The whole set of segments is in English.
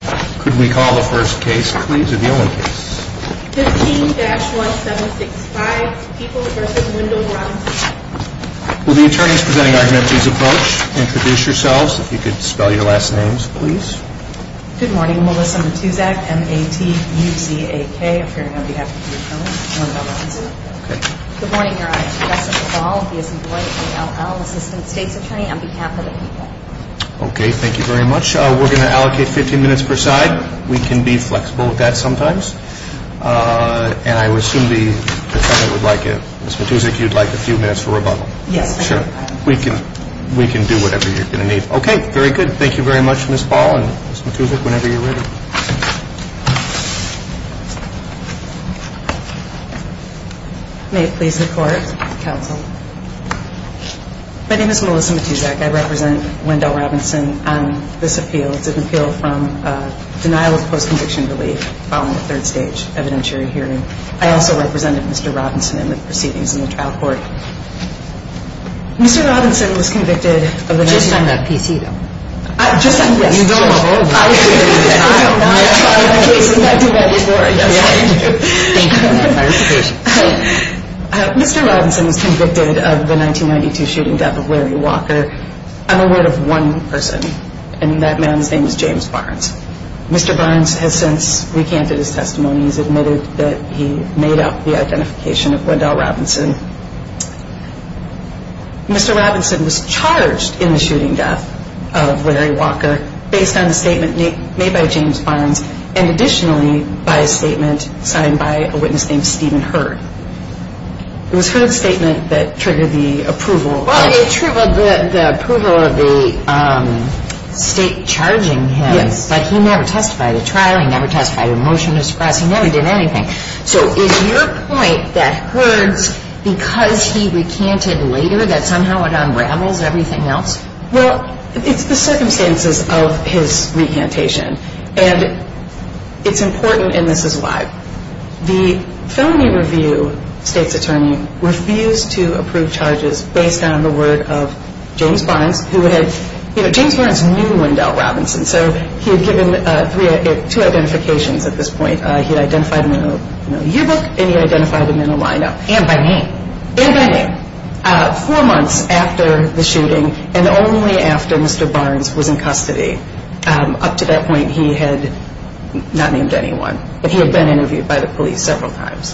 15-1765 People v. Wendell Robinson Good morning, Melissa Matuzak, M-A-T-U-Z-A-K, I'm here on behalf of the Attorney on behalf of Wendell Robinson. Good morning, Your Honor, Jessica Ball, B-S-E-Y-A-L-L, Assistant State's Attorney on behalf of the P.A. Okay, thank you very much. We're going to allocate 15 minutes per side. We can be flexible with that sometimes. And I would assume the defendant would like, Ms. Matuzak, you'd like a few minutes for rebuttal. Yes, I do. Sure, we can do whatever you're going to need. Okay, very good. Thank you very much, Ms. Ball and Ms. Matuzak, whenever you're ready. May it please the Court, counsel. My name is Melissa Matuzak. I represent Wendell Robinson on this appeal. It's an appeal from denial of post-conviction relief following a third stage evidentiary hearing. I also represented Mr. Robinson in the proceedings in the trial court. Mr. Robinson was convicted of the 1992 shooting death of Larry Walker. I'm aware of one person, and that man's name is James Barnes. Mr. Barnes has since recanted his testimony. He's admitted that he made up the identification of Wendell Robinson. Mr. Robinson was charged in the shooting death of Larry Walker based on a statement made by James Barnes and additionally by a statement signed by a witness named Stephen Hurd. It was Hurd's statement that triggered the approval. Well, it triggered the approval of the state charging him. Yes. But he never testified at trial. He never testified at a motion to suppress. He never did anything. So is your point that Hurd's, because he recanted later, that somehow it unravels everything else? Well, it's the circumstances of his recantation, and it's important, and this is why. The felony review state's attorney refused to approve charges based on the word of James Barnes, who had, you know, James Barnes knew Wendell Robinson, so he had given two identifications at this point. He had identified him in a yearbook, and he identified him in a lineup. And by name. And by name. Four months after the shooting and only after Mr. Barnes was in custody. Up to that point, he had not named anyone. But he had been interviewed by the police several times.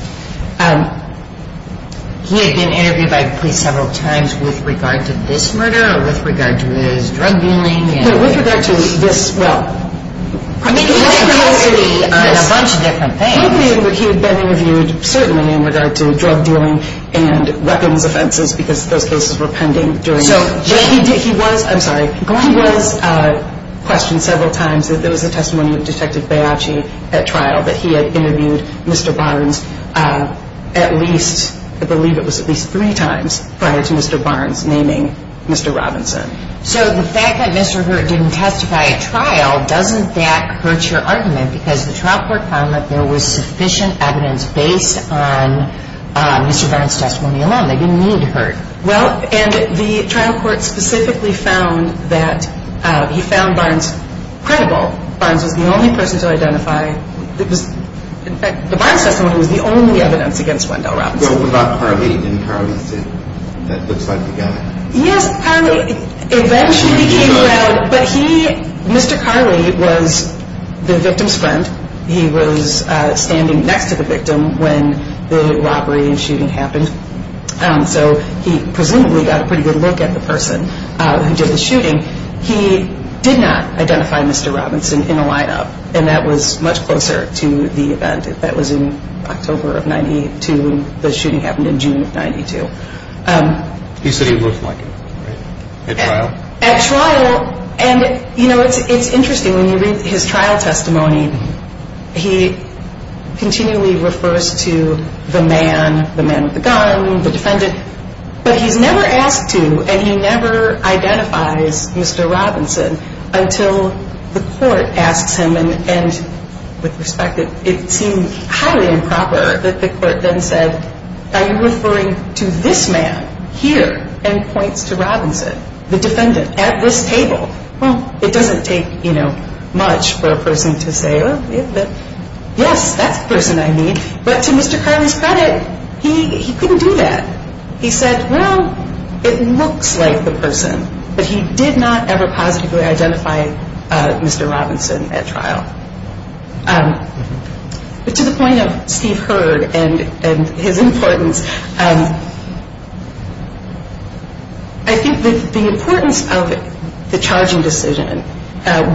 He had been interviewed by the police several times with regard to this murder or with regard to his drug dealing? With regard to this, well. I mean, he had been interviewed on a bunch of different things. He had been interviewed, certainly, in regard to drug dealing and weapons offenses, because those cases were pending. He was, I'm sorry, he was questioned several times that there was a testimony of Detective Baiocchi at trial, that he had interviewed Mr. Barnes at least, I believe it was at least three times, prior to Mr. Barnes naming Mr. Robinson. So the fact that Mr. Hurt didn't testify at trial, doesn't that hurt your argument? Because the trial court found that there was sufficient evidence based on Mr. Barnes' testimony alone. They didn't need Hurt. Well, and the trial court specifically found that he found Barnes credible. Barnes was the only person to identify. In fact, the Barnes testimony was the only evidence against Wendell Robinson. What about Carly? Didn't Carly say, that looks like the guy? Yes, Carly eventually became aware, but he, Mr. Carly was the victim's friend. He was standing next to the victim when the robbery and shooting happened. So he presumably got a pretty good look at the person who did the shooting. He did not identify Mr. Robinson in a lineup, and that was much closer to the event. That was in October of 92, and the shooting happened in June of 92. He said he looked like him, right? At trial? At trial, and you know, it's interesting, when you read his trial testimony, he continually refers to the man, the man with the gun, the defendant. But he's never asked to, and he never identifies Mr. Robinson until the court asks him, and with respect, it seemed highly improper that the court then said, are you referring to this man here? And points to Robinson, the defendant, at this table. Well, it doesn't take, you know, much for a person to say, yes, that's the person I need. But to Mr. Carly's credit, he couldn't do that. He said, well, it looks like the person, but he did not ever positively identify Mr. Robinson at trial. But to the point of Steve Heard and his importance, I think that the importance of the charging decision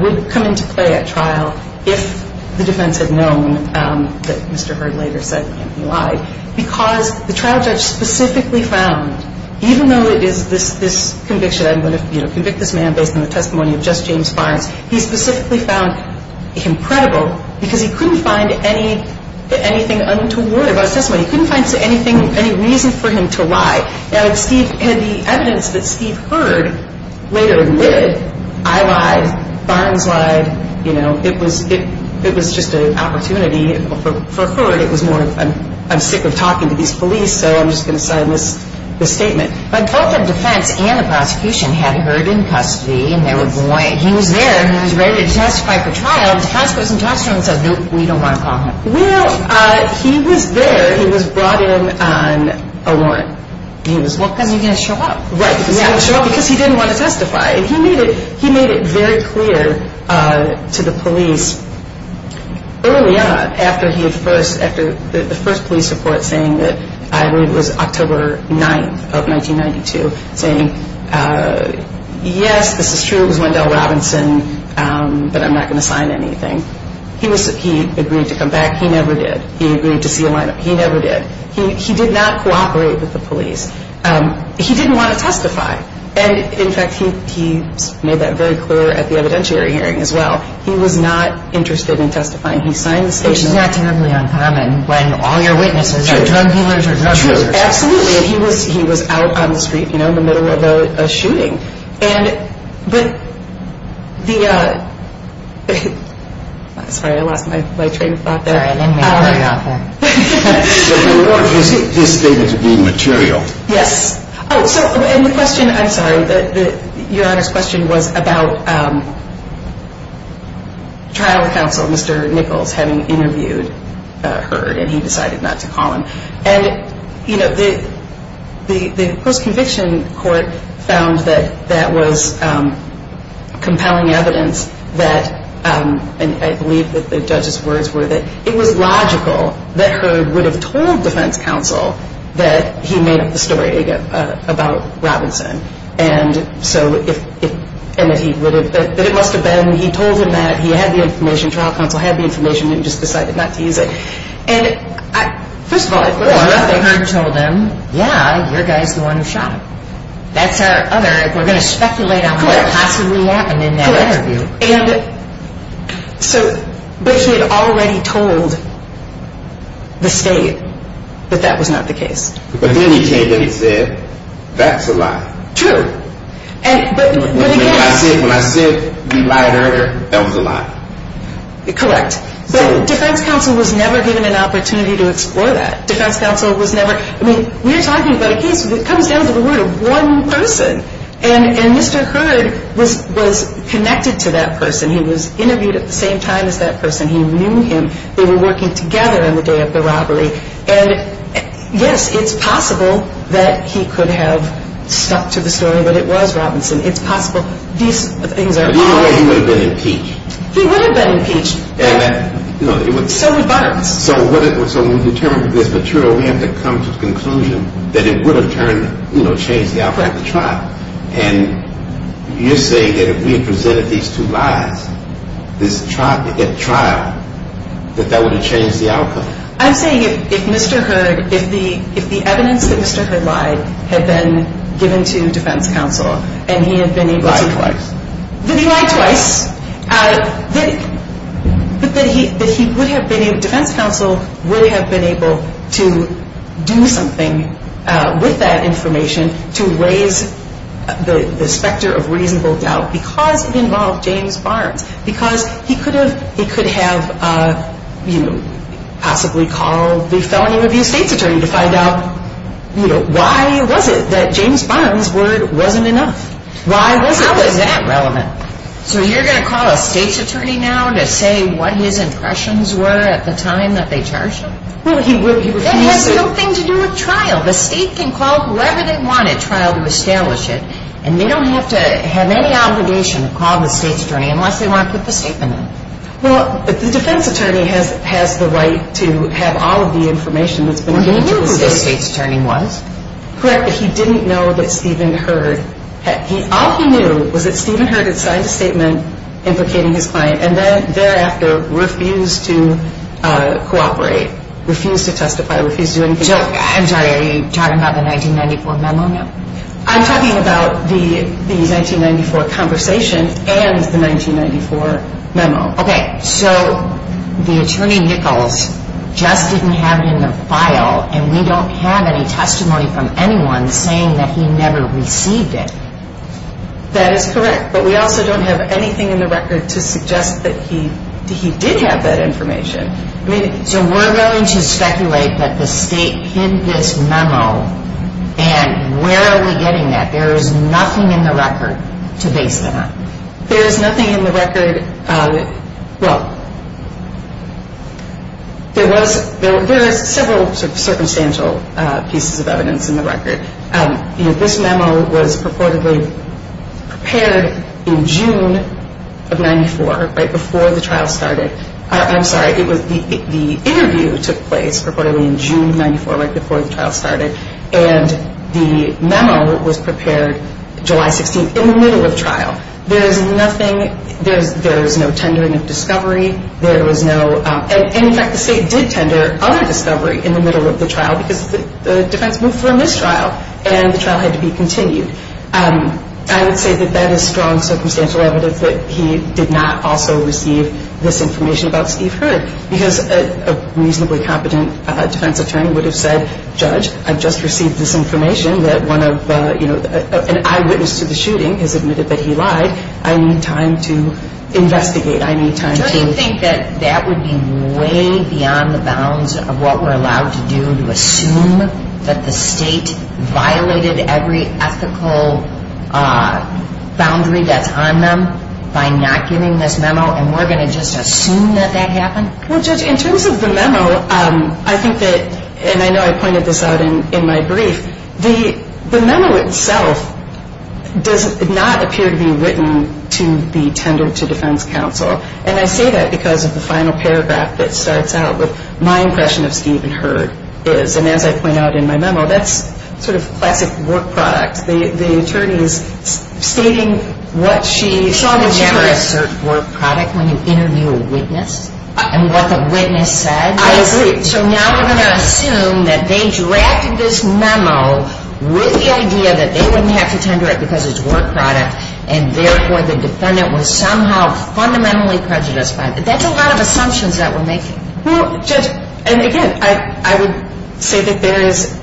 would come into play at trial if the defense had known that Mr. Heard later said he lied. Because the trial judge specifically found, even though it is this conviction, I'm going to convict this man based on the testimony of just James Farns, he specifically found him credible because he couldn't find anything untoward about his testimony. He couldn't find any reason for him to lie. And the evidence that Steve Heard later admitted, I lied, Farns lied, you know, it was just an opportunity for Heard. It was more, I'm sick of talking to these police, so I'm just going to sign this statement. But both the defense and the prosecution had Heard in custody, and they were going, he was there and he was ready to testify for trial, and the defense goes and talks to him and says, nope, we don't want to call him. Well, he was there. He was brought in on a warrant. Well, then you're going to show up. Right, because he didn't want to testify. And he made it very clear to the police early on after the first police report saying that, I believe it was October 9th of 1992, saying, yes, this is true, it was Wendell Robinson, but I'm not going to sign anything. He agreed to come back. He never did. He agreed to see a lineup. He never did. He did not cooperate with the police. He didn't want to testify. And, in fact, he made that very clear at the evidentiary hearing as well. He was not interested in testifying. He signed the statement. Which is not terribly uncommon when all your witnesses are drug dealers or drug dealers. Absolutely. And he was out on the street, you know, in the middle of a shooting. I'm sorry, I lost my train of thought there. Sorry, I didn't mean to bring it up there. The report is stated to be material. Yes. And the question, I'm sorry, Your Honor's question was about trial counsel, Mr. Nichols, having interviewed her, and he decided not to call him. And, you know, the post-conviction court found that, that was compelling evidence that, and I believe that the judge's words were that, it was logical that Herb would have told defense counsel that he made up the story about Robinson. And so if, and that he would have, that it must have been, he told him that, he had the information, trial counsel had the information, and he just decided not to use it. And, first of all, I think Herb told him, yeah, your guy's the one who shot him. That's our other, we're going to speculate on what possibly happened in that interview. Correct. And so, but he had already told the state that that was not the case. But then he came in and said, that's a lie. True. And, but, but again. When I said, when I said you lied earlier, that was a lie. Correct. But defense counsel was never given an opportunity to explore that. Defense counsel was never, I mean, we're talking about a case that comes down to the word of one person. And Mr. Hood was connected to that person. He was interviewed at the same time as that person. He knew him. They were working together on the day of the robbery. And, yes, it's possible that he could have stuck to the story that it was Robinson. It's possible. These things are. But he would have been impeached. He would have been impeached. So would Butters. So when we determine this material, we have to come to the conclusion that it would have turned, you know, changed the outcome of the trial. And you're saying that if we had presented these two lies, this trial, that that would have changed the outcome. I'm saying if Mr. Hood, if the evidence that Mr. Hood lied had been given to defense counsel and he had been able to. Lied twice. That he lied twice. But that he would have been able, defense counsel would have been able to do something with that information to raise the specter of reasonable doubt. Because it involved James Barnes. Because he could have, he could have, you know, possibly called the felony review state's attorney to find out, you know, why was it that James Barnes' word wasn't enough? Why was it? How is that relevant? So you're going to call a state's attorney now to say what his impressions were at the time that they charged him? Well, he would. That has nothing to do with trial. The state can call whoever they want at trial to establish it. And they don't have to have any obligation to call the state's attorney unless they want to put the statement in. Well, the defense attorney has the right to have all of the information that's been given to the state. Well, he knew who the state's attorney was. Correct. But he didn't know that Stephen Heard. All he knew was that Stephen Heard had signed a statement implicating his client and then thereafter refused to cooperate, refused to testify, refused to do anything. Jill, I'm sorry, are you talking about the 1994 memo now? I'm talking about the 1994 conversation and the 1994 memo. Okay. So the attorney Nichols just didn't have it in the file, and we don't have any testimony from anyone saying that he never received it. That is correct. But we also don't have anything in the record to suggest that he did have that information. So we're going to speculate that the state hid this memo, and where are we getting that? There is nothing in the record to base that on. There is nothing in the record. Well, there was several sort of circumstantial pieces of evidence in the record. This memo was purportedly prepared in June of 94, right before the trial started. I'm sorry, the interview took place purportedly in June of 94, right before the trial started, and the memo was prepared July 16th in the middle of trial. There is nothing, there is no tendering of discovery. There was no, and in fact the state did tender other discovery in the middle of the trial because the defense moved from this trial, and the trial had to be continued. I would say that that is strong circumstantial evidence that he did not also receive this information about Steve Heard because a reasonably competent defense attorney would have said, Judge, I've just received this information that one of, you know, an eyewitness to the shooting has admitted that he lied. I need time to investigate. Do you think that that would be way beyond the bounds of what we're allowed to do, to assume that the state violated every ethical boundary that's on them by not giving this memo, and we're going to just assume that that happened? Well, Judge, in terms of the memo, I think that, and I know I pointed this out in my brief, the memo itself does not appear to be written to the tender to defense counsel, and I say that because of the final paragraph that starts out with, my impression of Steve and Heard is, and as I point out in my memo, that's sort of classic work product. The attorney is stating what she saw when she heard it. You never assert work product when you interview a witness and what the witness said. I agree. So now we're going to assume that they drafted this memo with the idea that they wouldn't have to tender it because it's work product, and therefore the defendant was somehow fundamentally prejudiced by it. That's a lot of assumptions that we're making. Well, Judge, and again, I would say that there is,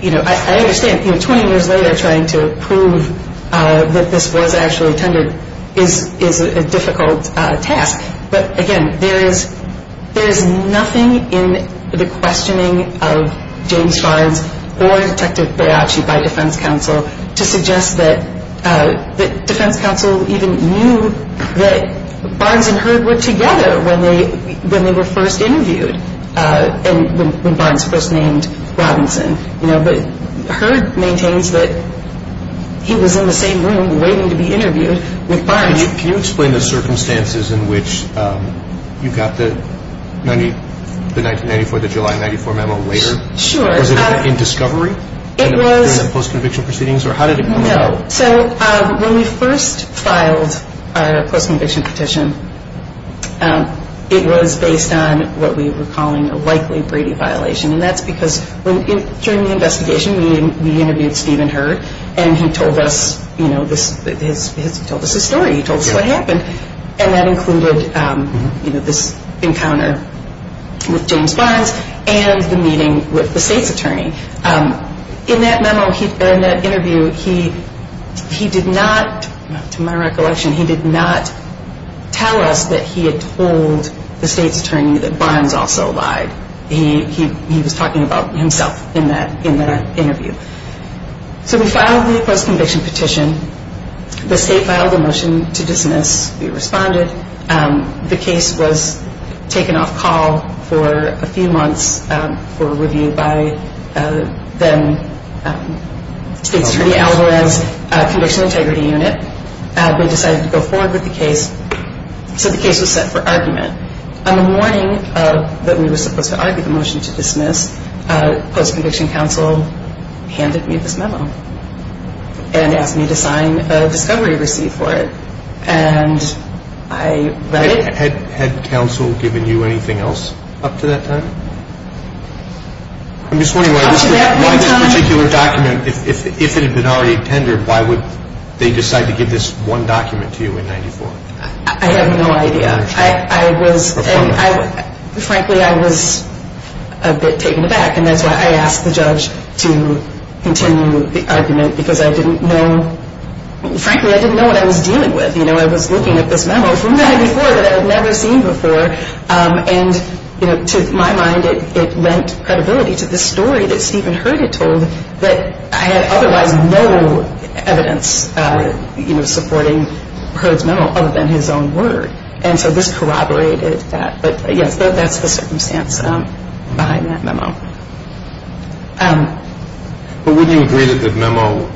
you know, I understand, you know, 20 years later trying to prove that this was actually tendered is a difficult task, but again, there is nothing in the questioning of James Barnes or Detective Baiocchi by defense counsel to suggest that defense counsel even knew that Barnes and Heard were together when they were first interviewed, when Barnes first named Robinson. You know, but Heard maintains that he was in the same room waiting to be interviewed with Barnes. Can you explain the circumstances in which you got the 1994, the July 1994 memo later? Sure. Was it in discovery? It was. During the post-conviction proceedings, or how did it come about? No, so when we first filed our post-conviction petition, it was based on what we were calling a likely Brady violation, and that's because during the investigation we interviewed Stephen Heard, and he told us, you know, he told us his story. He told us what happened, and that included, you know, this encounter with James Barnes and the meeting with the state's attorney. In that memo, in that interview, he did not, to my recollection, he did not tell us that he had told the state's attorney that Barnes also lied. He was talking about himself in that interview. So we filed the post-conviction petition. The state filed a motion to dismiss. We responded. The case was taken off call for a few months for review by then state's attorney, Alvarez Conditional Integrity Unit. We decided to go forward with the case. So the case was set for argument. On the morning that we were supposed to argue the motion to dismiss, post-conviction counsel handed me this memo and asked me to sign a discovery receipt for it. And I read it. Had counsel given you anything else up to that time? I'm just wondering why this particular document, if it had been already tendered, why would they decide to give this one document to you in 94? I have no idea. Frankly, I was a bit taken aback, and that's why I asked the judge to continue the argument because I didn't know. Frankly, I didn't know what I was dealing with. I was looking at this memo from 94 that I had never seen before. And to my mind, it lent credibility to this story that Stephen Heard had told that I had otherwise no evidence supporting Heard's memo other than his own word. And so this corroborated that. But wouldn't you agree that the memo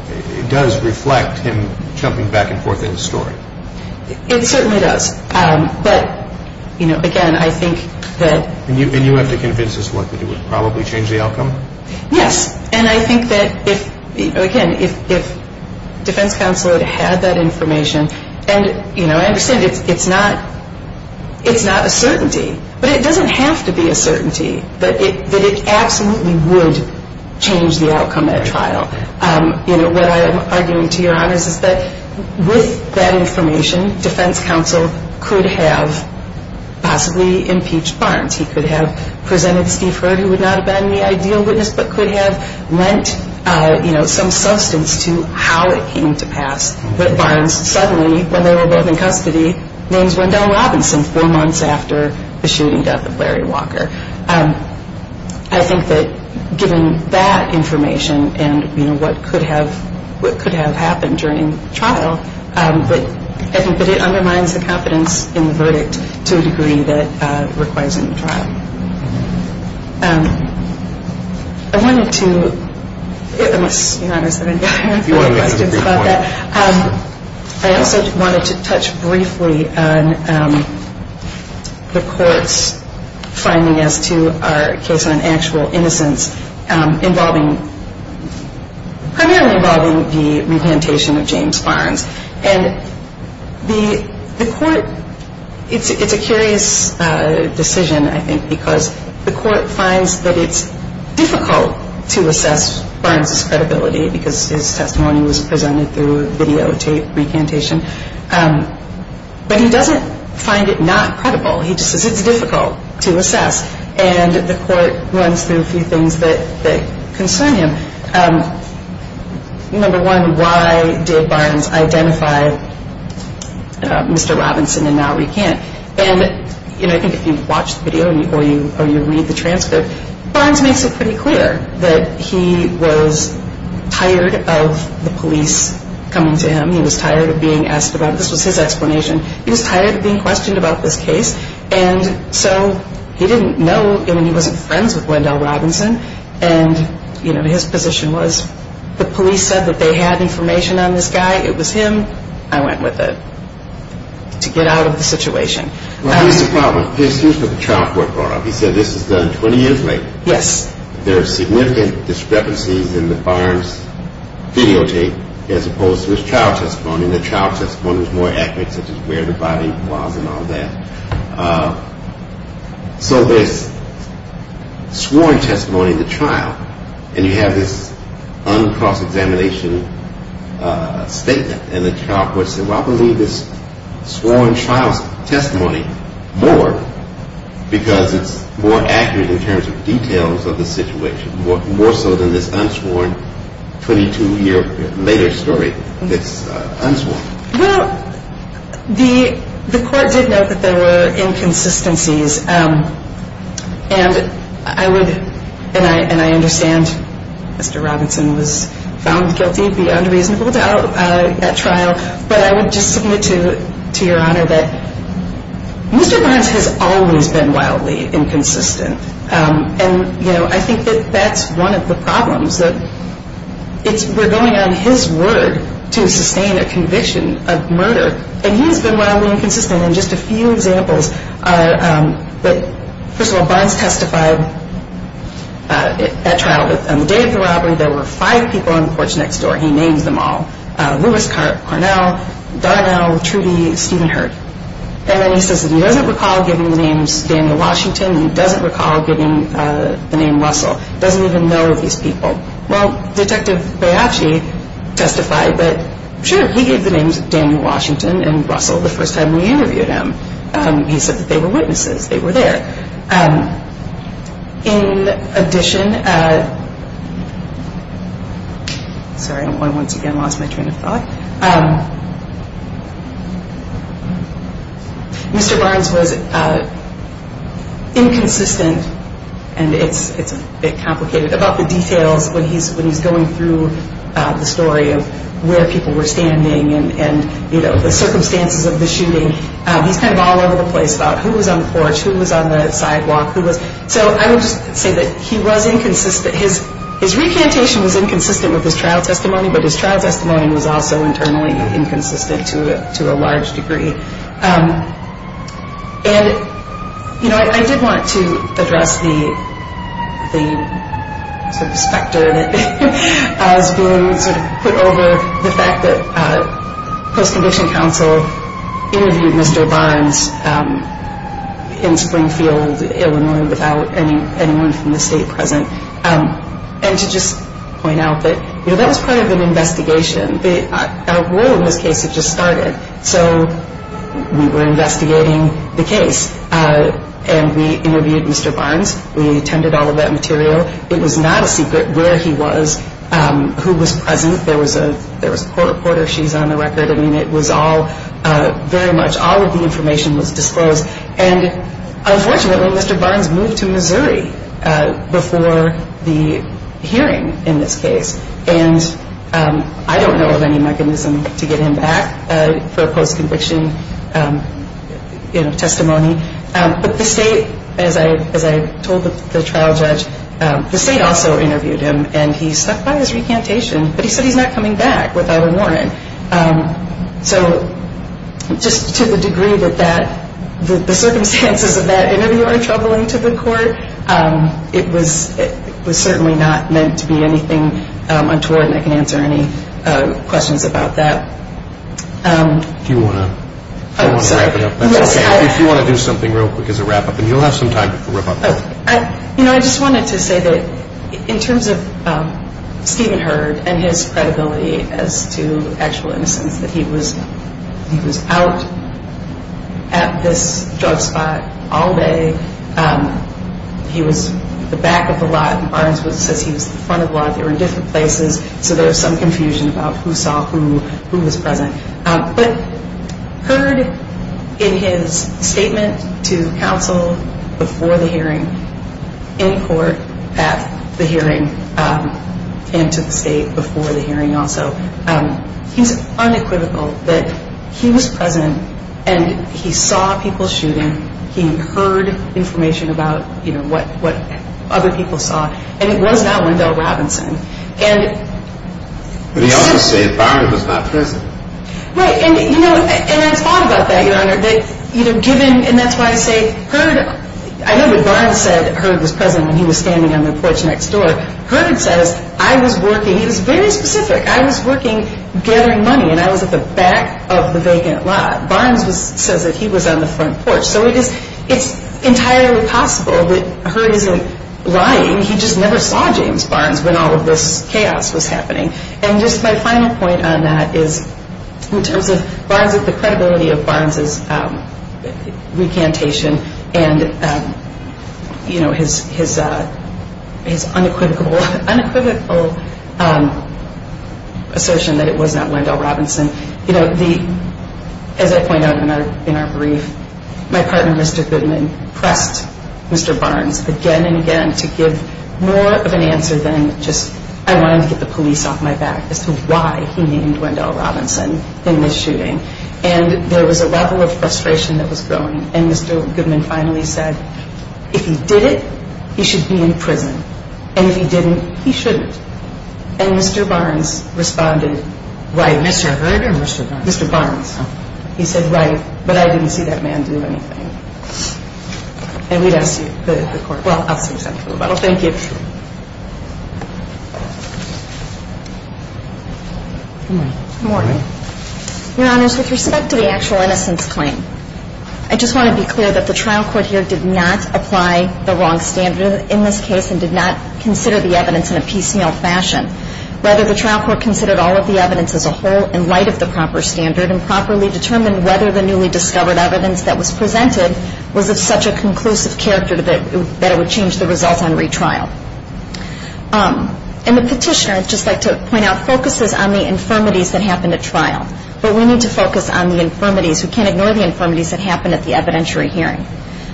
does reflect him jumping back and forth in the story? It certainly does. But, you know, again, I think that — And you have to convince us what? That it would probably change the outcome? Yes. And I think that, again, if defense counsel had had that information, and, you know, I understand it's not a certainty, but it doesn't have to be a certainty that it absolutely would change the outcome at trial. You know, what I am arguing to your honors is that with that information, defense counsel could have possibly impeached Barnes. He could have presented Steve Heard, who would not have been the ideal witness, but could have lent, you know, some substance to how it came to pass that Barnes suddenly, when they were both in custody, names Wendell Robinson four months after the shooting death of Larry Walker. I think that given that information and, you know, what could have happened during the trial, I think that it undermines the competence in the verdict to a degree that it requires in the trial. I wanted to — unless, your honors, I have any other questions about that. I also wanted to touch briefly on the court's finding as to our case on actual innocence involving — primarily involving the repantation of James Barnes. And the court — it's a curious decision, I think, because the court finds that it's difficult to assess Barnes' credibility because his testimony was presented through videotape recantation. But he doesn't find it not credible. He just says it's difficult to assess. And the court runs through a few things that concern him. Number one, why did Barnes identify Mr. Robinson and not recant? And, you know, I think if you watch the video or you read the transcript, Barnes makes it pretty clear that he was tired of the police coming to him. He was tired of being asked about it. This was his explanation. He was tired of being questioned about this case. And so he didn't know — I mean, he wasn't friends with Wendell Robinson. And, you know, his position was the police said that they had information on this guy. It was him. I went with it to get out of the situation. Well, here's the problem. Here's what the trial court brought up. He said this was done 20 years later. Yes. There are significant discrepancies in the Barnes videotape as opposed to his trial testimony. And the trial testimony was more accurate, such as where the body was and all that. So there's sworn testimony in the trial, and you have this uncross-examination statement. And the trial court said, well, I believe this sworn trial testimony more because it's more accurate in terms of details of the situation, more so than this unsworn 22-year-later story that's unsworn. Well, the court did note that there were inconsistencies. And I would — and I understand Mr. Robinson was found guilty, beyond reasonable doubt, at trial. But I would just submit to Your Honor that Mr. Barnes has always been wildly inconsistent. And, you know, I think that that's one of the problems, that we're going on his word to sustain a conviction of murder. And he has been wildly inconsistent. And just a few examples are that, first of all, Barnes testified at trial. On the day of the robbery, there were five people on the porch next door. He names them all. Lewis Carnell, Darnell, Trudy, Stephen Hurt. And then he says that he doesn't recall giving the names Daniel Washington. He doesn't recall giving the name Russell. He doesn't even know these people. Well, Detective Baiocchi testified that, sure, he gave the names Daniel Washington and Russell the first time we interviewed him. He said that they were witnesses. They were there. In addition — sorry, I once again lost my train of thought. Mr. Barnes was inconsistent, and it's a bit complicated, about the details when he's going through the story of where people were standing and, you know, the circumstances of the shooting. He's kind of all over the place about who was on the porch, who was on the sidewalk. So I would just say that he was inconsistent. His recantation was inconsistent with his trial testimony, but his trial testimony was also internally inconsistent to a large degree. And, you know, I did want to address the sort of specter that has been sort of put over the fact that post-condition counsel interviewed Mr. Barnes in Springfield, Illinois, without anyone from the state present, and to just point out that, you know, that was part of an investigation. Our role in this case had just started. So we were investigating the case, and we interviewed Mr. Barnes. We attended all of that material. It was not a secret where he was, who was present. There was a poor reporter. She's on the record. I mean, it was all — very much all of the information was disclosed. And unfortunately, Mr. Barnes moved to Missouri before the hearing in this case, and I don't know of any mechanism to get him back for a post-conviction testimony. But the state, as I told the trial judge, the state also interviewed him, and he stuck by his recantation, but he said he's not coming back without a warrant. So just to the degree that the circumstances of that interview are troubling to the court, it was certainly not meant to be anything untoward, and I can't answer any questions about that. Do you want to wrap it up? Oh, sorry. If you want to do something real quick as a wrap-up, and you'll have some time to wrap up. You know, I just wanted to say that in terms of Stephen Hurd and his credibility as to actual innocence, that he was out at this drug spot all day. He was at the back of the lot, and Barnes says he was at the front of the lot. They were in different places, so there was some confusion about who saw who, who was present. But Hurd, in his statement to counsel before the hearing, in court at the hearing, and to the state before the hearing also, he's unequivocal that he was present, and he saw people shooting. He heard information about what other people saw, and it was not Wendell Robinson. But he also said Barnes was not present. Right, and I thought about that, Your Honor, that given, and that's why I say Hurd, I know that Barnes said Hurd was present when he was standing on the porch next door. Hurd says, I was working, he was very specific, I was working gathering money, and I was at the back of the vacant lot. Barnes says that he was on the front porch, so it's entirely possible that Hurd isn't lying. He just never saw James Barnes when all of this chaos was happening. And just my final point on that is in terms of the credibility of Barnes's recantation and his unequivocal assertion that it was not Wendell Robinson, as I point out in our brief, my partner, Mr. Goodman, pressed Mr. Barnes again and again to give more of an answer than just I wanted to get the police off my back as to why he named Wendell Robinson in this shooting. And there was a level of frustration that was growing, and Mr. Goodman finally said, if he did it, he should be in prison, and if he didn't, he shouldn't. And Mr. Barnes responded, right. Mr. Hurd or Mr. Barnes? Mr. Barnes. He said, right, but I didn't see that man do anything. And we'd ask the court. Well, I'll see if that's true. Thank you. Good morning. Good morning. Your Honors, with respect to the actual innocence claim, I just want to be clear that the trial court here did not apply the wrong standard in this case and did not consider the evidence in a PCL fashion. Rather, the trial court considered all of the evidence as a whole in light of the proper standard and properly determined whether the newly discovered evidence that was presented was of such a conclusive character that it would change the results on retrial. And the petitioner, I'd just like to point out, focuses on the infirmities that happened at trial, but we need to focus on the infirmities. We can't ignore the infirmities that happened at the evidentiary hearing.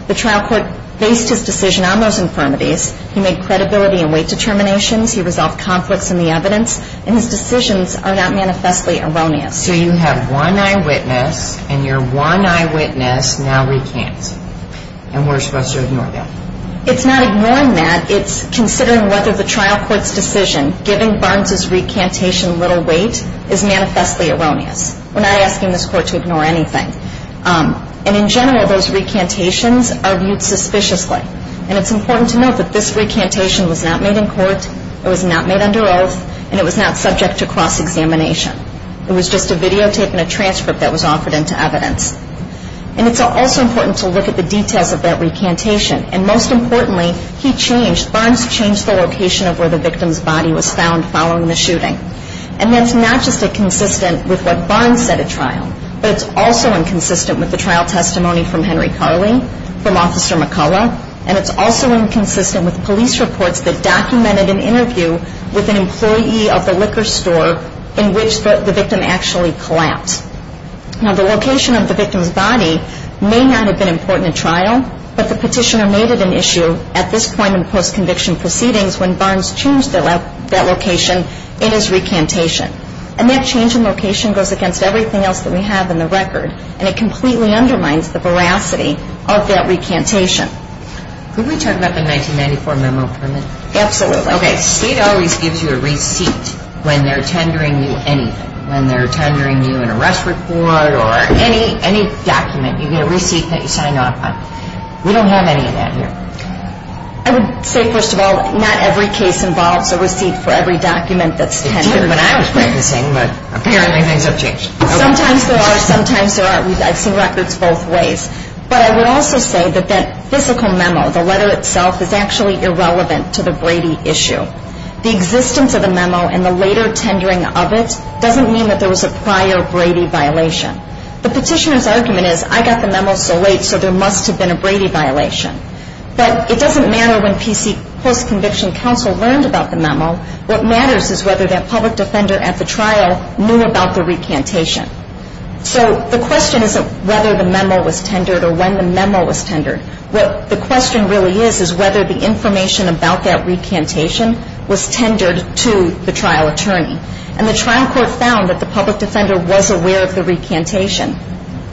The trial court based his decision on those infirmities. He made credibility and weight determinations. He resolved conflicts in the evidence. And his decisions are not manifestly erroneous. So you have one eyewitness, and your one eyewitness now recants. And we're supposed to ignore that? It's not ignoring that. It's considering whether the trial court's decision, giving Barnes's recantation little weight, is manifestly erroneous. We're not asking this court to ignore anything. And in general, those recantations are viewed suspiciously. And it's important to note that this recantation was not made in court, it was not made under oath, and it was not subject to cross-examination. It was just a videotape and a transcript that was offered into evidence. And it's also important to look at the details of that recantation. And most importantly, he changed, Barnes changed the location of where the victim's body was found following the shooting. And that's not just inconsistent with what Barnes said at trial, but it's also inconsistent with the trial testimony from Henry Carley, from Officer McCullough, and it's also inconsistent with police reports that documented an interview with an employee of the liquor store in which the victim actually collapsed. Now, the location of the victim's body may not have been important at trial, but the petitioner made it an issue at this point in post-conviction proceedings when Barnes changed that location in his recantation. And that change in location goes against everything else that we have in the record, and it completely undermines the veracity of that recantation. Could we talk about the 1994 memo permit? Absolutely. Okay, state always gives you a receipt when they're tendering you anything, when they're tendering you an arrest report or any document. You get a receipt that you sign off on. We don't have any of that here. I would say, first of all, not every case involves a receipt for every document that's tendered. It did when I was practicing, but apparently things have changed. Sometimes there are, sometimes there aren't. I've seen records both ways. But I would also say that that physical memo, the letter itself, is actually irrelevant to the Brady issue. The existence of the memo and the later tendering of it doesn't mean that there was a prior Brady violation. The petitioner's argument is, I got the memo so late, so there must have been a Brady violation. What matters is whether that public defender at the trial knew about the recantation. So the question isn't whether the memo was tendered or when the memo was tendered. What the question really is is whether the information about that recantation was tendered to the trial attorney. And the trial court found that the public defender was aware of the recantation.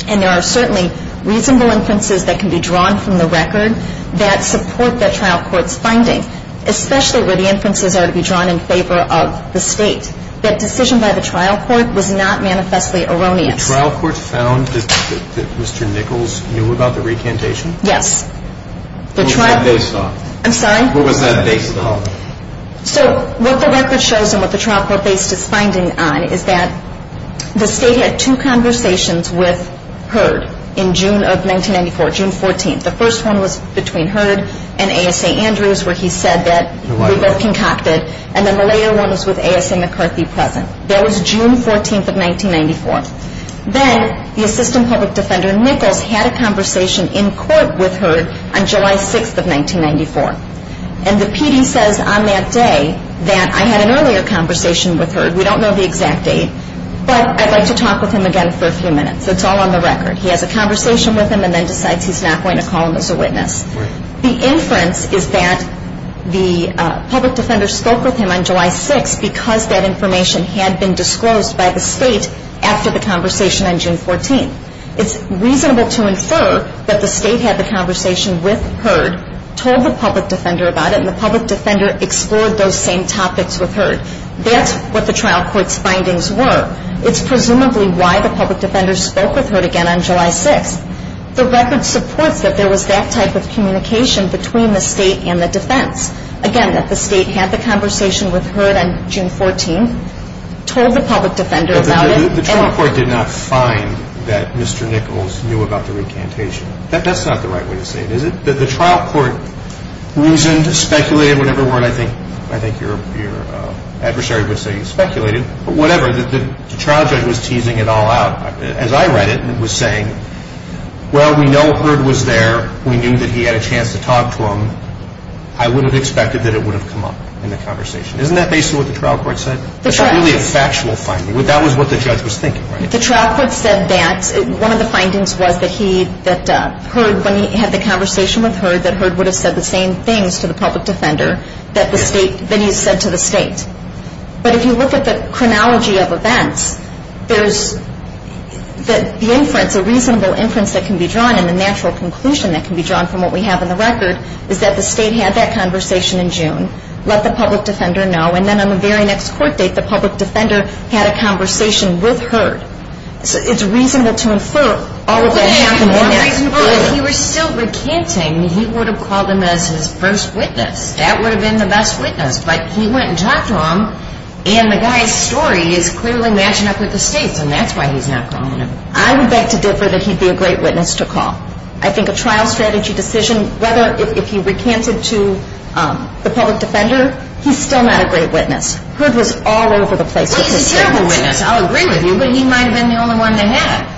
And there are certainly reasonable inferences that can be drawn from the record that support that trial court's finding, especially where the inferences are to be drawn in favor of the state. That decision by the trial court was not manifestly erroneous. The trial court found that Mr. Nichols knew about the recantation? Yes. What was that based on? I'm sorry? What was that based on? So what the record shows and what the trial court based its finding on is that the state had two conversations with Heard in June of 1994, June 14th. The first one was between Heard and ASA Andrews where he said that we both concocted. And then the later one was with ASA McCarthy present. That was June 14th of 1994. Then the assistant public defender Nichols had a conversation in court with Heard on July 6th of 1994. And the PD says on that day that I had an earlier conversation with Heard. We don't know the exact date. But I'd like to talk with him again for a few minutes. It's all on the record. He has a conversation with him and then decides he's not going to call him as a witness. The inference is that the public defender spoke with him on July 6th because that information had been disclosed by the state after the conversation on June 14th. It's reasonable to infer that the state had the conversation with Heard, told the public defender about it, and the public defender explored those same topics with Heard. That's what the trial court's findings were. It's presumably why the public defender spoke with Heard again on July 6th. The record supports that there was that type of communication between the state and the defense. Again, that the state had the conversation with Heard on June 14th, told the public defender about it. The trial court did not find that Mr. Nichols knew about the recantation. That's not the right way to say it, is it? The trial court reasoned, speculated, whatever word I think your adversary would say you speculated, but whatever, the trial judge was teasing it all out. As I read it, it was saying, well, we know Heard was there. We knew that he had a chance to talk to him. I would have expected that it would have come up in the conversation. Isn't that basically what the trial court said? It's really a factual finding. That was what the judge was thinking, right? The trial court said that. One of the findings was that Heard, when he had the conversation with Heard, that Heard would have said the same things to the public defender that he said to the state. But if you look at the chronology of events, there's the inference, a reasonable inference that can be drawn, and the natural conclusion that can be drawn from what we have in the record is that the state had that conversation in June, let the public defender know, and then on the very next court date, the public defender had a conversation with Heard. So it's reasonable to infer all of that happened in that period. If he were still recanting, he would have called him as his first witness. That would have been the best witness. But he went and talked to him, and the guy's story is clearly matching up with the state's, and that's why he's not calling him. I would beg to differ that he'd be a great witness to call. I think a trial strategy decision, whether if he recanted to the public defender, he's still not a great witness. Heard was all over the place with his statements. Well, he's a terrible witness. I'll agree with you, but he might have been the only one to have.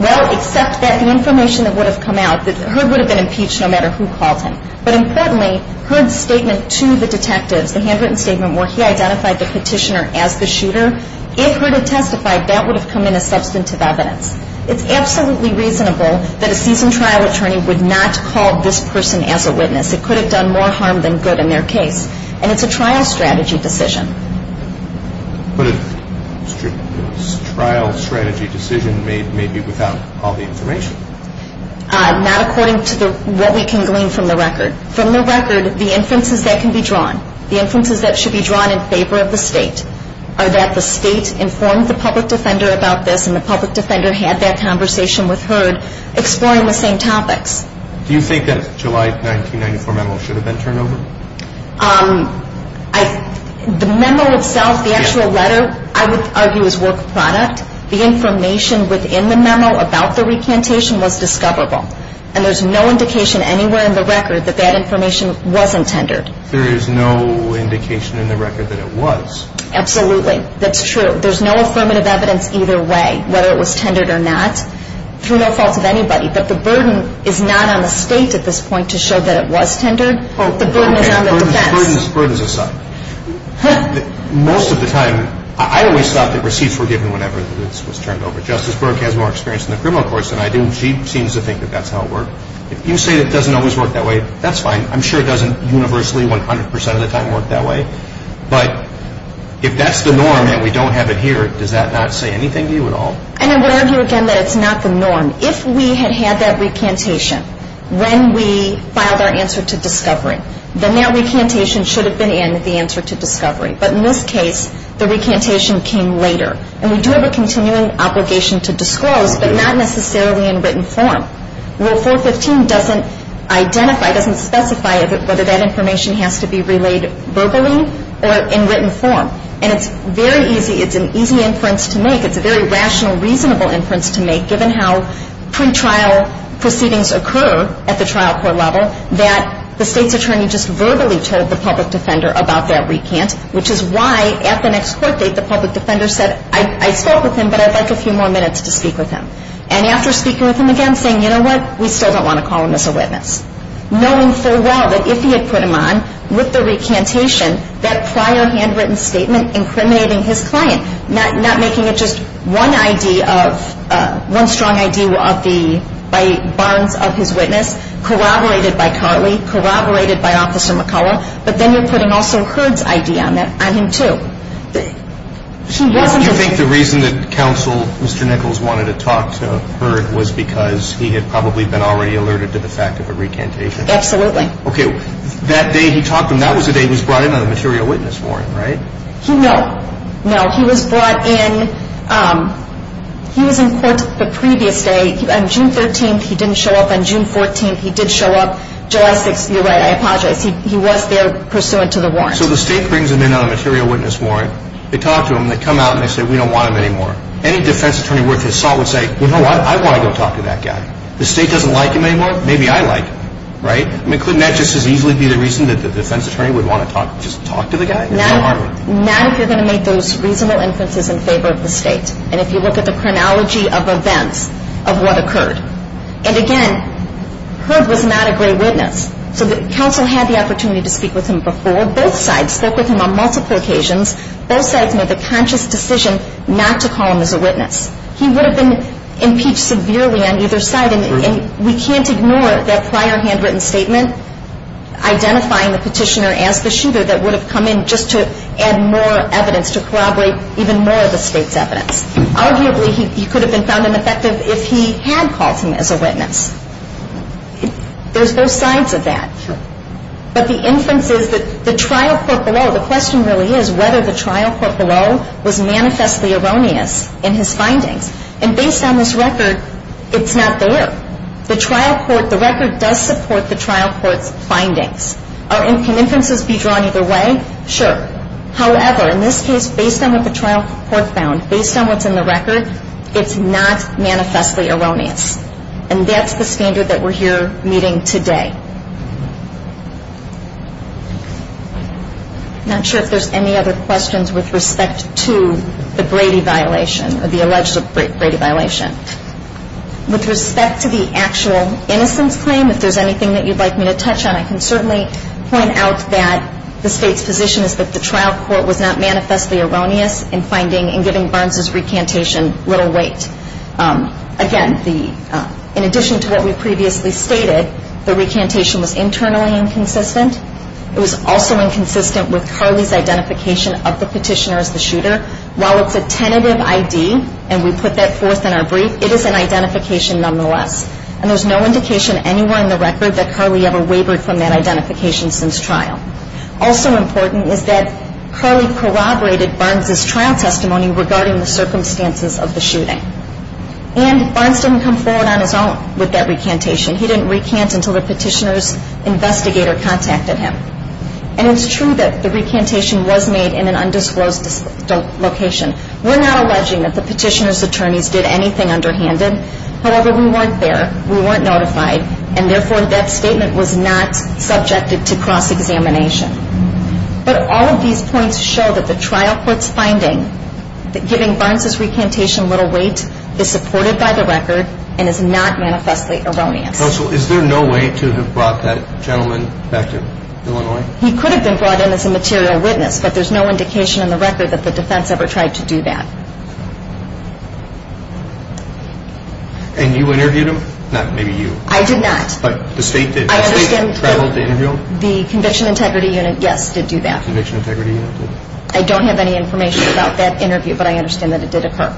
Well, except that the information that would have come out, that Heard would have been impeached no matter who called him. But incredibly, Heard's statement to the detectives, the handwritten statement where he identified the petitioner as the shooter, if Heard had testified, that would have come in as substantive evidence. It's absolutely reasonable that a seasoned trial attorney would not call this person as a witness. It could have done more harm than good in their case, and it's a trial strategy decision. But a trial strategy decision may be without all the information. Not according to what we can glean from the record. From the record, the inferences that can be drawn, the inferences that should be drawn in favor of the State, are that the State informed the public defender about this, and the public defender had that conversation with Heard, exploring the same topics. Do you think that July 1994 memo should have been turned over? The memo itself, the actual letter, I would argue is work product. The information within the memo about the recantation was discoverable. And there's no indication anywhere in the record that that information wasn't tendered. There is no indication in the record that it was. Absolutely. That's true. There's no affirmative evidence either way, whether it was tendered or not, through no fault of anybody. But the burden is not on the State at this point to show that it was tendered. The burden is on the defense. Burdens aside, most of the time, I always thought that receipts were given whenever this was turned over. Justice Burke has more experience in the criminal courts than I do. She seems to think that that's how it worked. If you say that it doesn't always work that way, that's fine. I'm sure it doesn't universally 100 percent of the time work that way. But if that's the norm and we don't have it here, does that not say anything to you at all? And I would argue again that it's not the norm. If we had had that recantation when we filed our answer to discovery, then that recantation should have been in the answer to discovery. But in this case, the recantation came later. And we do have a continuing obligation to disclose, but not necessarily in written form. Rule 415 doesn't identify, doesn't specify whether that information has to be relayed verbally or in written form. And it's very easy. It's an easy inference to make. It's a very rational, reasonable inference to make, given how pre-trial proceedings occur at the trial court level, that the state's attorney just verbally told the public defender about that recant, which is why at the next court date the public defender said, I spoke with him, but I'd like a few more minutes to speak with him. And after speaking with him again, saying, you know what, we still don't want to call him as a witness, knowing full well that if he had put him on with the recantation, that prior handwritten statement incriminating his client, not making it just one ID of, one strong ID of the, by Barnes of his witness, corroborated by Carley, corroborated by Officer McCullough, but then you're putting also Hurd's ID on him too. He wasn't just... Do you think the reason that counsel, Mr. Nichols, wanted to talk to Hurd was because he had probably been already alerted to the fact of a recantation? Absolutely. Okay. That day he talked to him, that was the day he was brought in on a material witness warrant, right? No. No, he was brought in, he was in court the previous day. On June 13th, he didn't show up. On June 14th, he did show up. July 6th, you're right, I apologize, he was there pursuant to the warrant. So the state brings him in on a material witness warrant, they talk to him, they come out and they say, we don't want him anymore. Any defense attorney worth his salt would say, you know what, I want to go talk to that guy. The state doesn't like him anymore, maybe I like him, right? I mean, couldn't that just as easily be the reason that the defense attorney would want to talk, just talk to the guy? Not if you're going to make those reasonable inferences in favor of the state. And if you look at the chronology of events of what occurred. And again, Heard was not a great witness. So the counsel had the opportunity to speak with him before. Both sides spoke with him on multiple occasions. Both sides made the conscious decision not to call him as a witness. He would have been impeached severely on either side, and we can't ignore that prior handwritten statement identifying the petitioner as the shooter that would have come in just to add more evidence, to corroborate even more of the state's evidence. Arguably, he could have been found ineffective if he had called him as a witness. There's both sides of that. But the inference is that the trial court below, the question really is whether the trial court below was manifestly erroneous in his findings. And based on this record, it's not there. Can inferences be drawn either way? Sure. However, in this case, based on what the trial court found, based on what's in the record, it's not manifestly erroneous. And that's the standard that we're here meeting today. I'm not sure if there's any other questions with respect to the Brady violation, or the alleged Brady violation. With respect to the actual innocence claim, if there's anything that you'd like me to touch on, I can certainly point out that the state's position is that the trial court was not manifestly erroneous in giving Barnes' recantation little weight. Again, in addition to what we previously stated, the recantation was internally inconsistent. It was also inconsistent with Carly's identification of the petitioner as the shooter. While it's a tentative ID, and we put that forth in our brief, it is an identification nonetheless. And there's no indication anywhere in the record that Carly ever wavered from that identification since trial. Also important is that Carly corroborated Barnes' trial testimony regarding the circumstances of the shooting. And Barnes didn't come forward on his own with that recantation. He didn't recant until the petitioner's investigator contacted him. And it's true that the recantation was made in an undisclosed location. We're not alleging that the petitioner's attorneys did anything underhanded. However, we weren't there. We weren't notified. And therefore, that statement was not subjected to cross-examination. But all of these points show that the trial court's finding that giving Barnes' recantation little weight is supported by the record and is not manifestly erroneous. Counsel, is there no way to have brought that gentleman back to Illinois? He could have been brought in as a material witness, but there's no indication in the record that the defense ever tried to do that. And you interviewed him? Not maybe you. I did not. But the state did. The state traveled to interview him? The Conviction Integrity Unit, yes, did do that. Conviction Integrity Unit did. I don't have any information about that interview, but I understand that it did occur.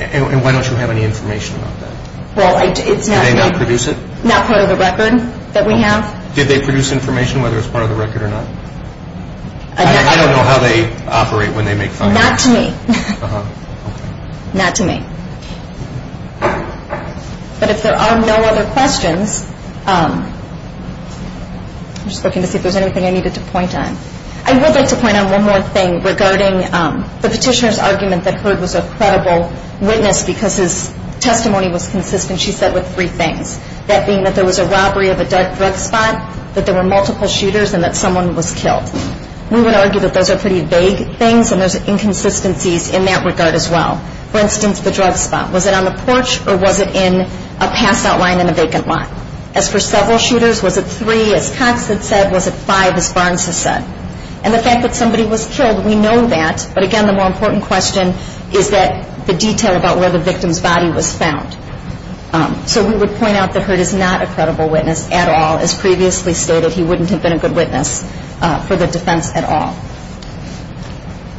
And why don't you have any information about that? Well, it's not part of the record that we have. Did they produce information whether it's part of the record or not? I don't know how they operate when they make findings. Not to me. Not to me. But if there are no other questions, I'm just looking to see if there's anything I needed to point on. I would like to point on one more thing regarding the petitioner's argument that Herd was a credible witness because his testimony was consistent, she said, with three things, that being that there was a robbery of a drug spot, that there were multiple shooters, and that someone was killed. We would argue that those are pretty vague things, and there's inconsistencies in that regard as well. For instance, the drug spot. Was it on the porch or was it in a passout line in a vacant lot? As for several shooters, was it three, as Cox had said, was it five, as Barnes has said? And the fact that somebody was killed, we know that. But, again, the more important question is the detail about where the victim's body was found. So we would point out that Herd is not a credible witness at all. As previously stated, he wouldn't have been a good witness for the defense at all.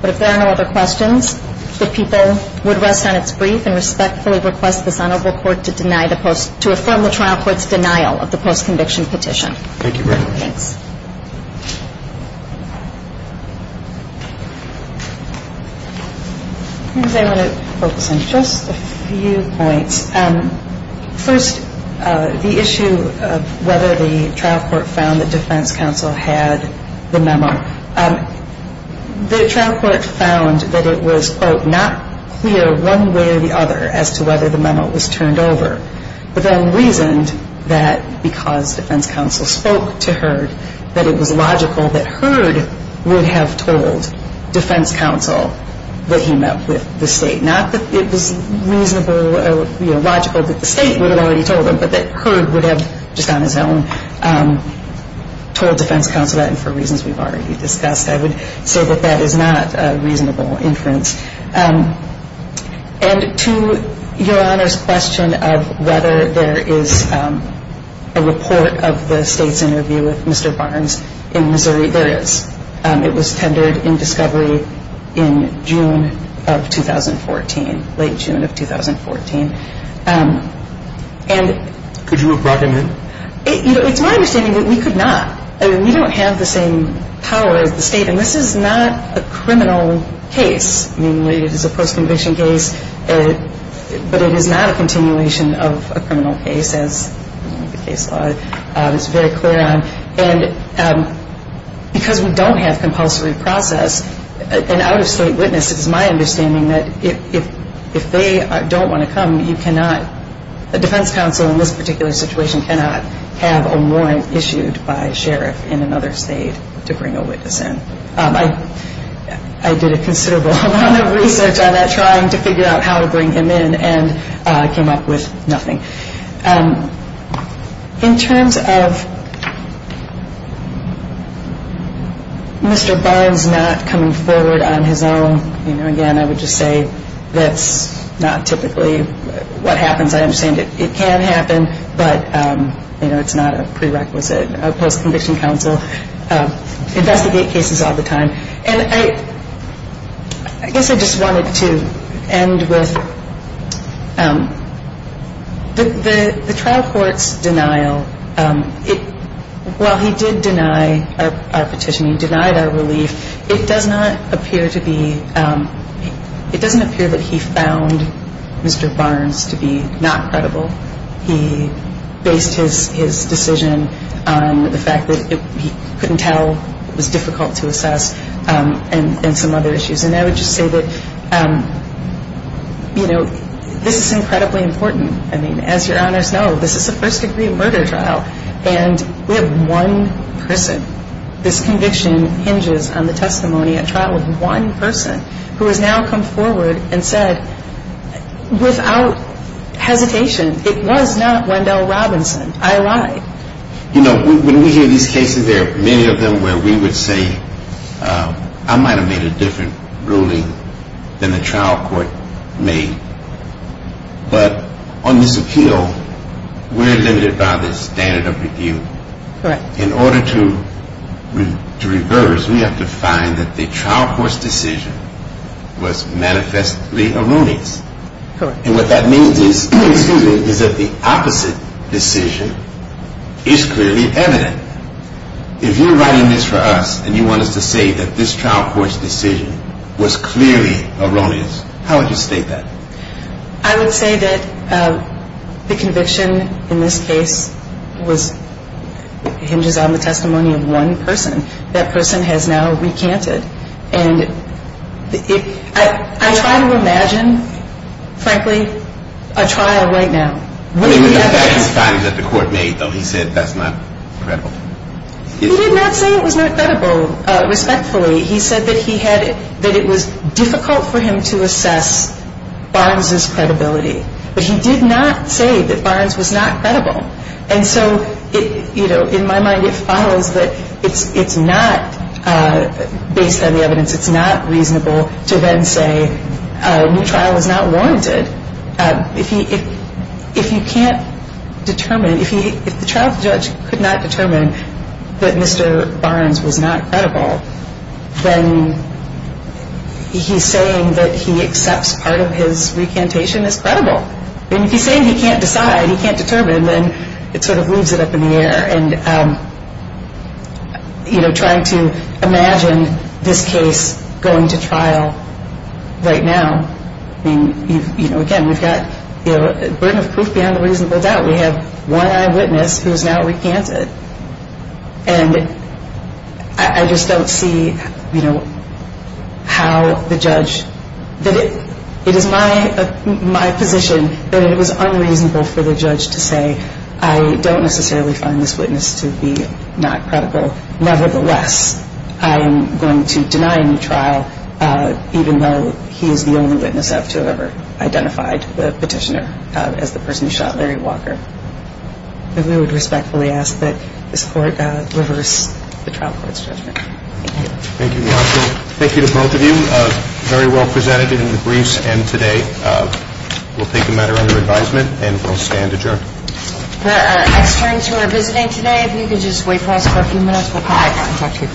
But if there are no other questions, the people would rest on its brief and respectfully request this Honorable Court to affirm the trial court's denial of the post-conviction petition. Thank you very much. Thanks. I want to focus on just a few points. First, the issue of whether the trial court found that defense counsel had the memo. The trial court found that it was, quote, not clear one way or the other as to whether the memo was turned over, but then reasoned that because defense counsel spoke to Herd, that it was logical that Herd would have told defense counsel that he met with the State. Not that it was reasonable or logical that the State would have already told him, but that Herd would have just on his own told defense counsel that, and for reasons we've already discussed, I would say that that is not a reasonable inference. And to Your Honor's question of whether there is a report of the State's interview with Mr. Barnes, in Missouri, there is. It was tendered in discovery in June of 2014, late June of 2014. Could you have brought him in? It's my understanding that we could not. I mean, we don't have the same power as the State, and this is not a criminal case. I mean, it is a post-conviction case, but it is not a continuation of a criminal case, as the case law is very clear on. And because we don't have compulsory process, an out-of-State witness, it's my understanding that if they don't want to come, you cannot. A defense counsel in this particular situation cannot have a warrant issued by a sheriff in another State to bring a witness in. I did a considerable amount of research on that, trying to figure out how to bring him in, and I came up with nothing. In terms of Mr. Barnes not coming forward on his own, you know, again, I would just say that's not typically what happens. I understand it can happen, but, you know, it's not a prerequisite. A post-conviction counsel investigate cases all the time. And I guess I just wanted to end with the trial court's denial. While he did deny our petition, he denied our relief, it does not appear to be – it doesn't appear that he found Mr. Barnes to be not credible. He based his decision on the fact that he couldn't tell, it was difficult to assess, and some other issues. And I would just say that, you know, this is incredibly important. I mean, as Your Honors know, this is a first-degree murder trial, and we have one person. This conviction hinges on the testimony at trial of one person who has now come forward and said, without hesitation, it was not Wendell Robinson. I lied. You know, when we hear these cases, there are many of them where we would say, I might have made a different ruling than the trial court made. But on this appeal, we're limited by the standard of review. In order to reverse, we have to find that the trial court's decision was manifestly erroneous. And what that means is that the opposite decision is clearly evident. If you're writing this for us and you want us to say that this trial court's decision was clearly erroneous, how would you state that? I would say that the conviction in this case hinges on the testimony of one person. That person has now recanted. And I try to imagine, frankly, a trial right now. What do you think about the findings that the court made, though? He said that's not credible. He did not say it was not credible. He said that it was difficult for him to assess Barnes's credibility. But he did not say that Barnes was not credible. And so, you know, in my mind, it follows that it's not, based on the evidence, it's not reasonable to then say a new trial is not warranted. If you can't determine, if the trial judge could not determine that Mr. Barnes was not credible, then he's saying that he accepts part of his recantation as credible. I mean, if he's saying he can't decide, he can't determine, then it sort of leaves it up in the air. And, you know, trying to imagine this case going to trial right now, I mean, you know, again, we've got a burden of proof beyond a reasonable doubt. We have one eyewitness who has now recanted. And I just don't see, you know, how the judge, that it is my position that it was unreasonable for the judge to say, I don't necessarily find this witness to be not credible. Nevertheless, I am going to deny a new trial, even though he is the only witness to have ever identified the petitioner as the person who shot Larry Walker. And we would respectfully ask that this Court reverse the trial court's judgment. Thank you. Thank you, Marcia. Thank you to both of you. Very well presented in the briefs and today. We'll take the matter under advisement and we'll stand adjourned. The experts who are visiting today, if you could just wait for us for a few minutes, we'll come back and talk to you.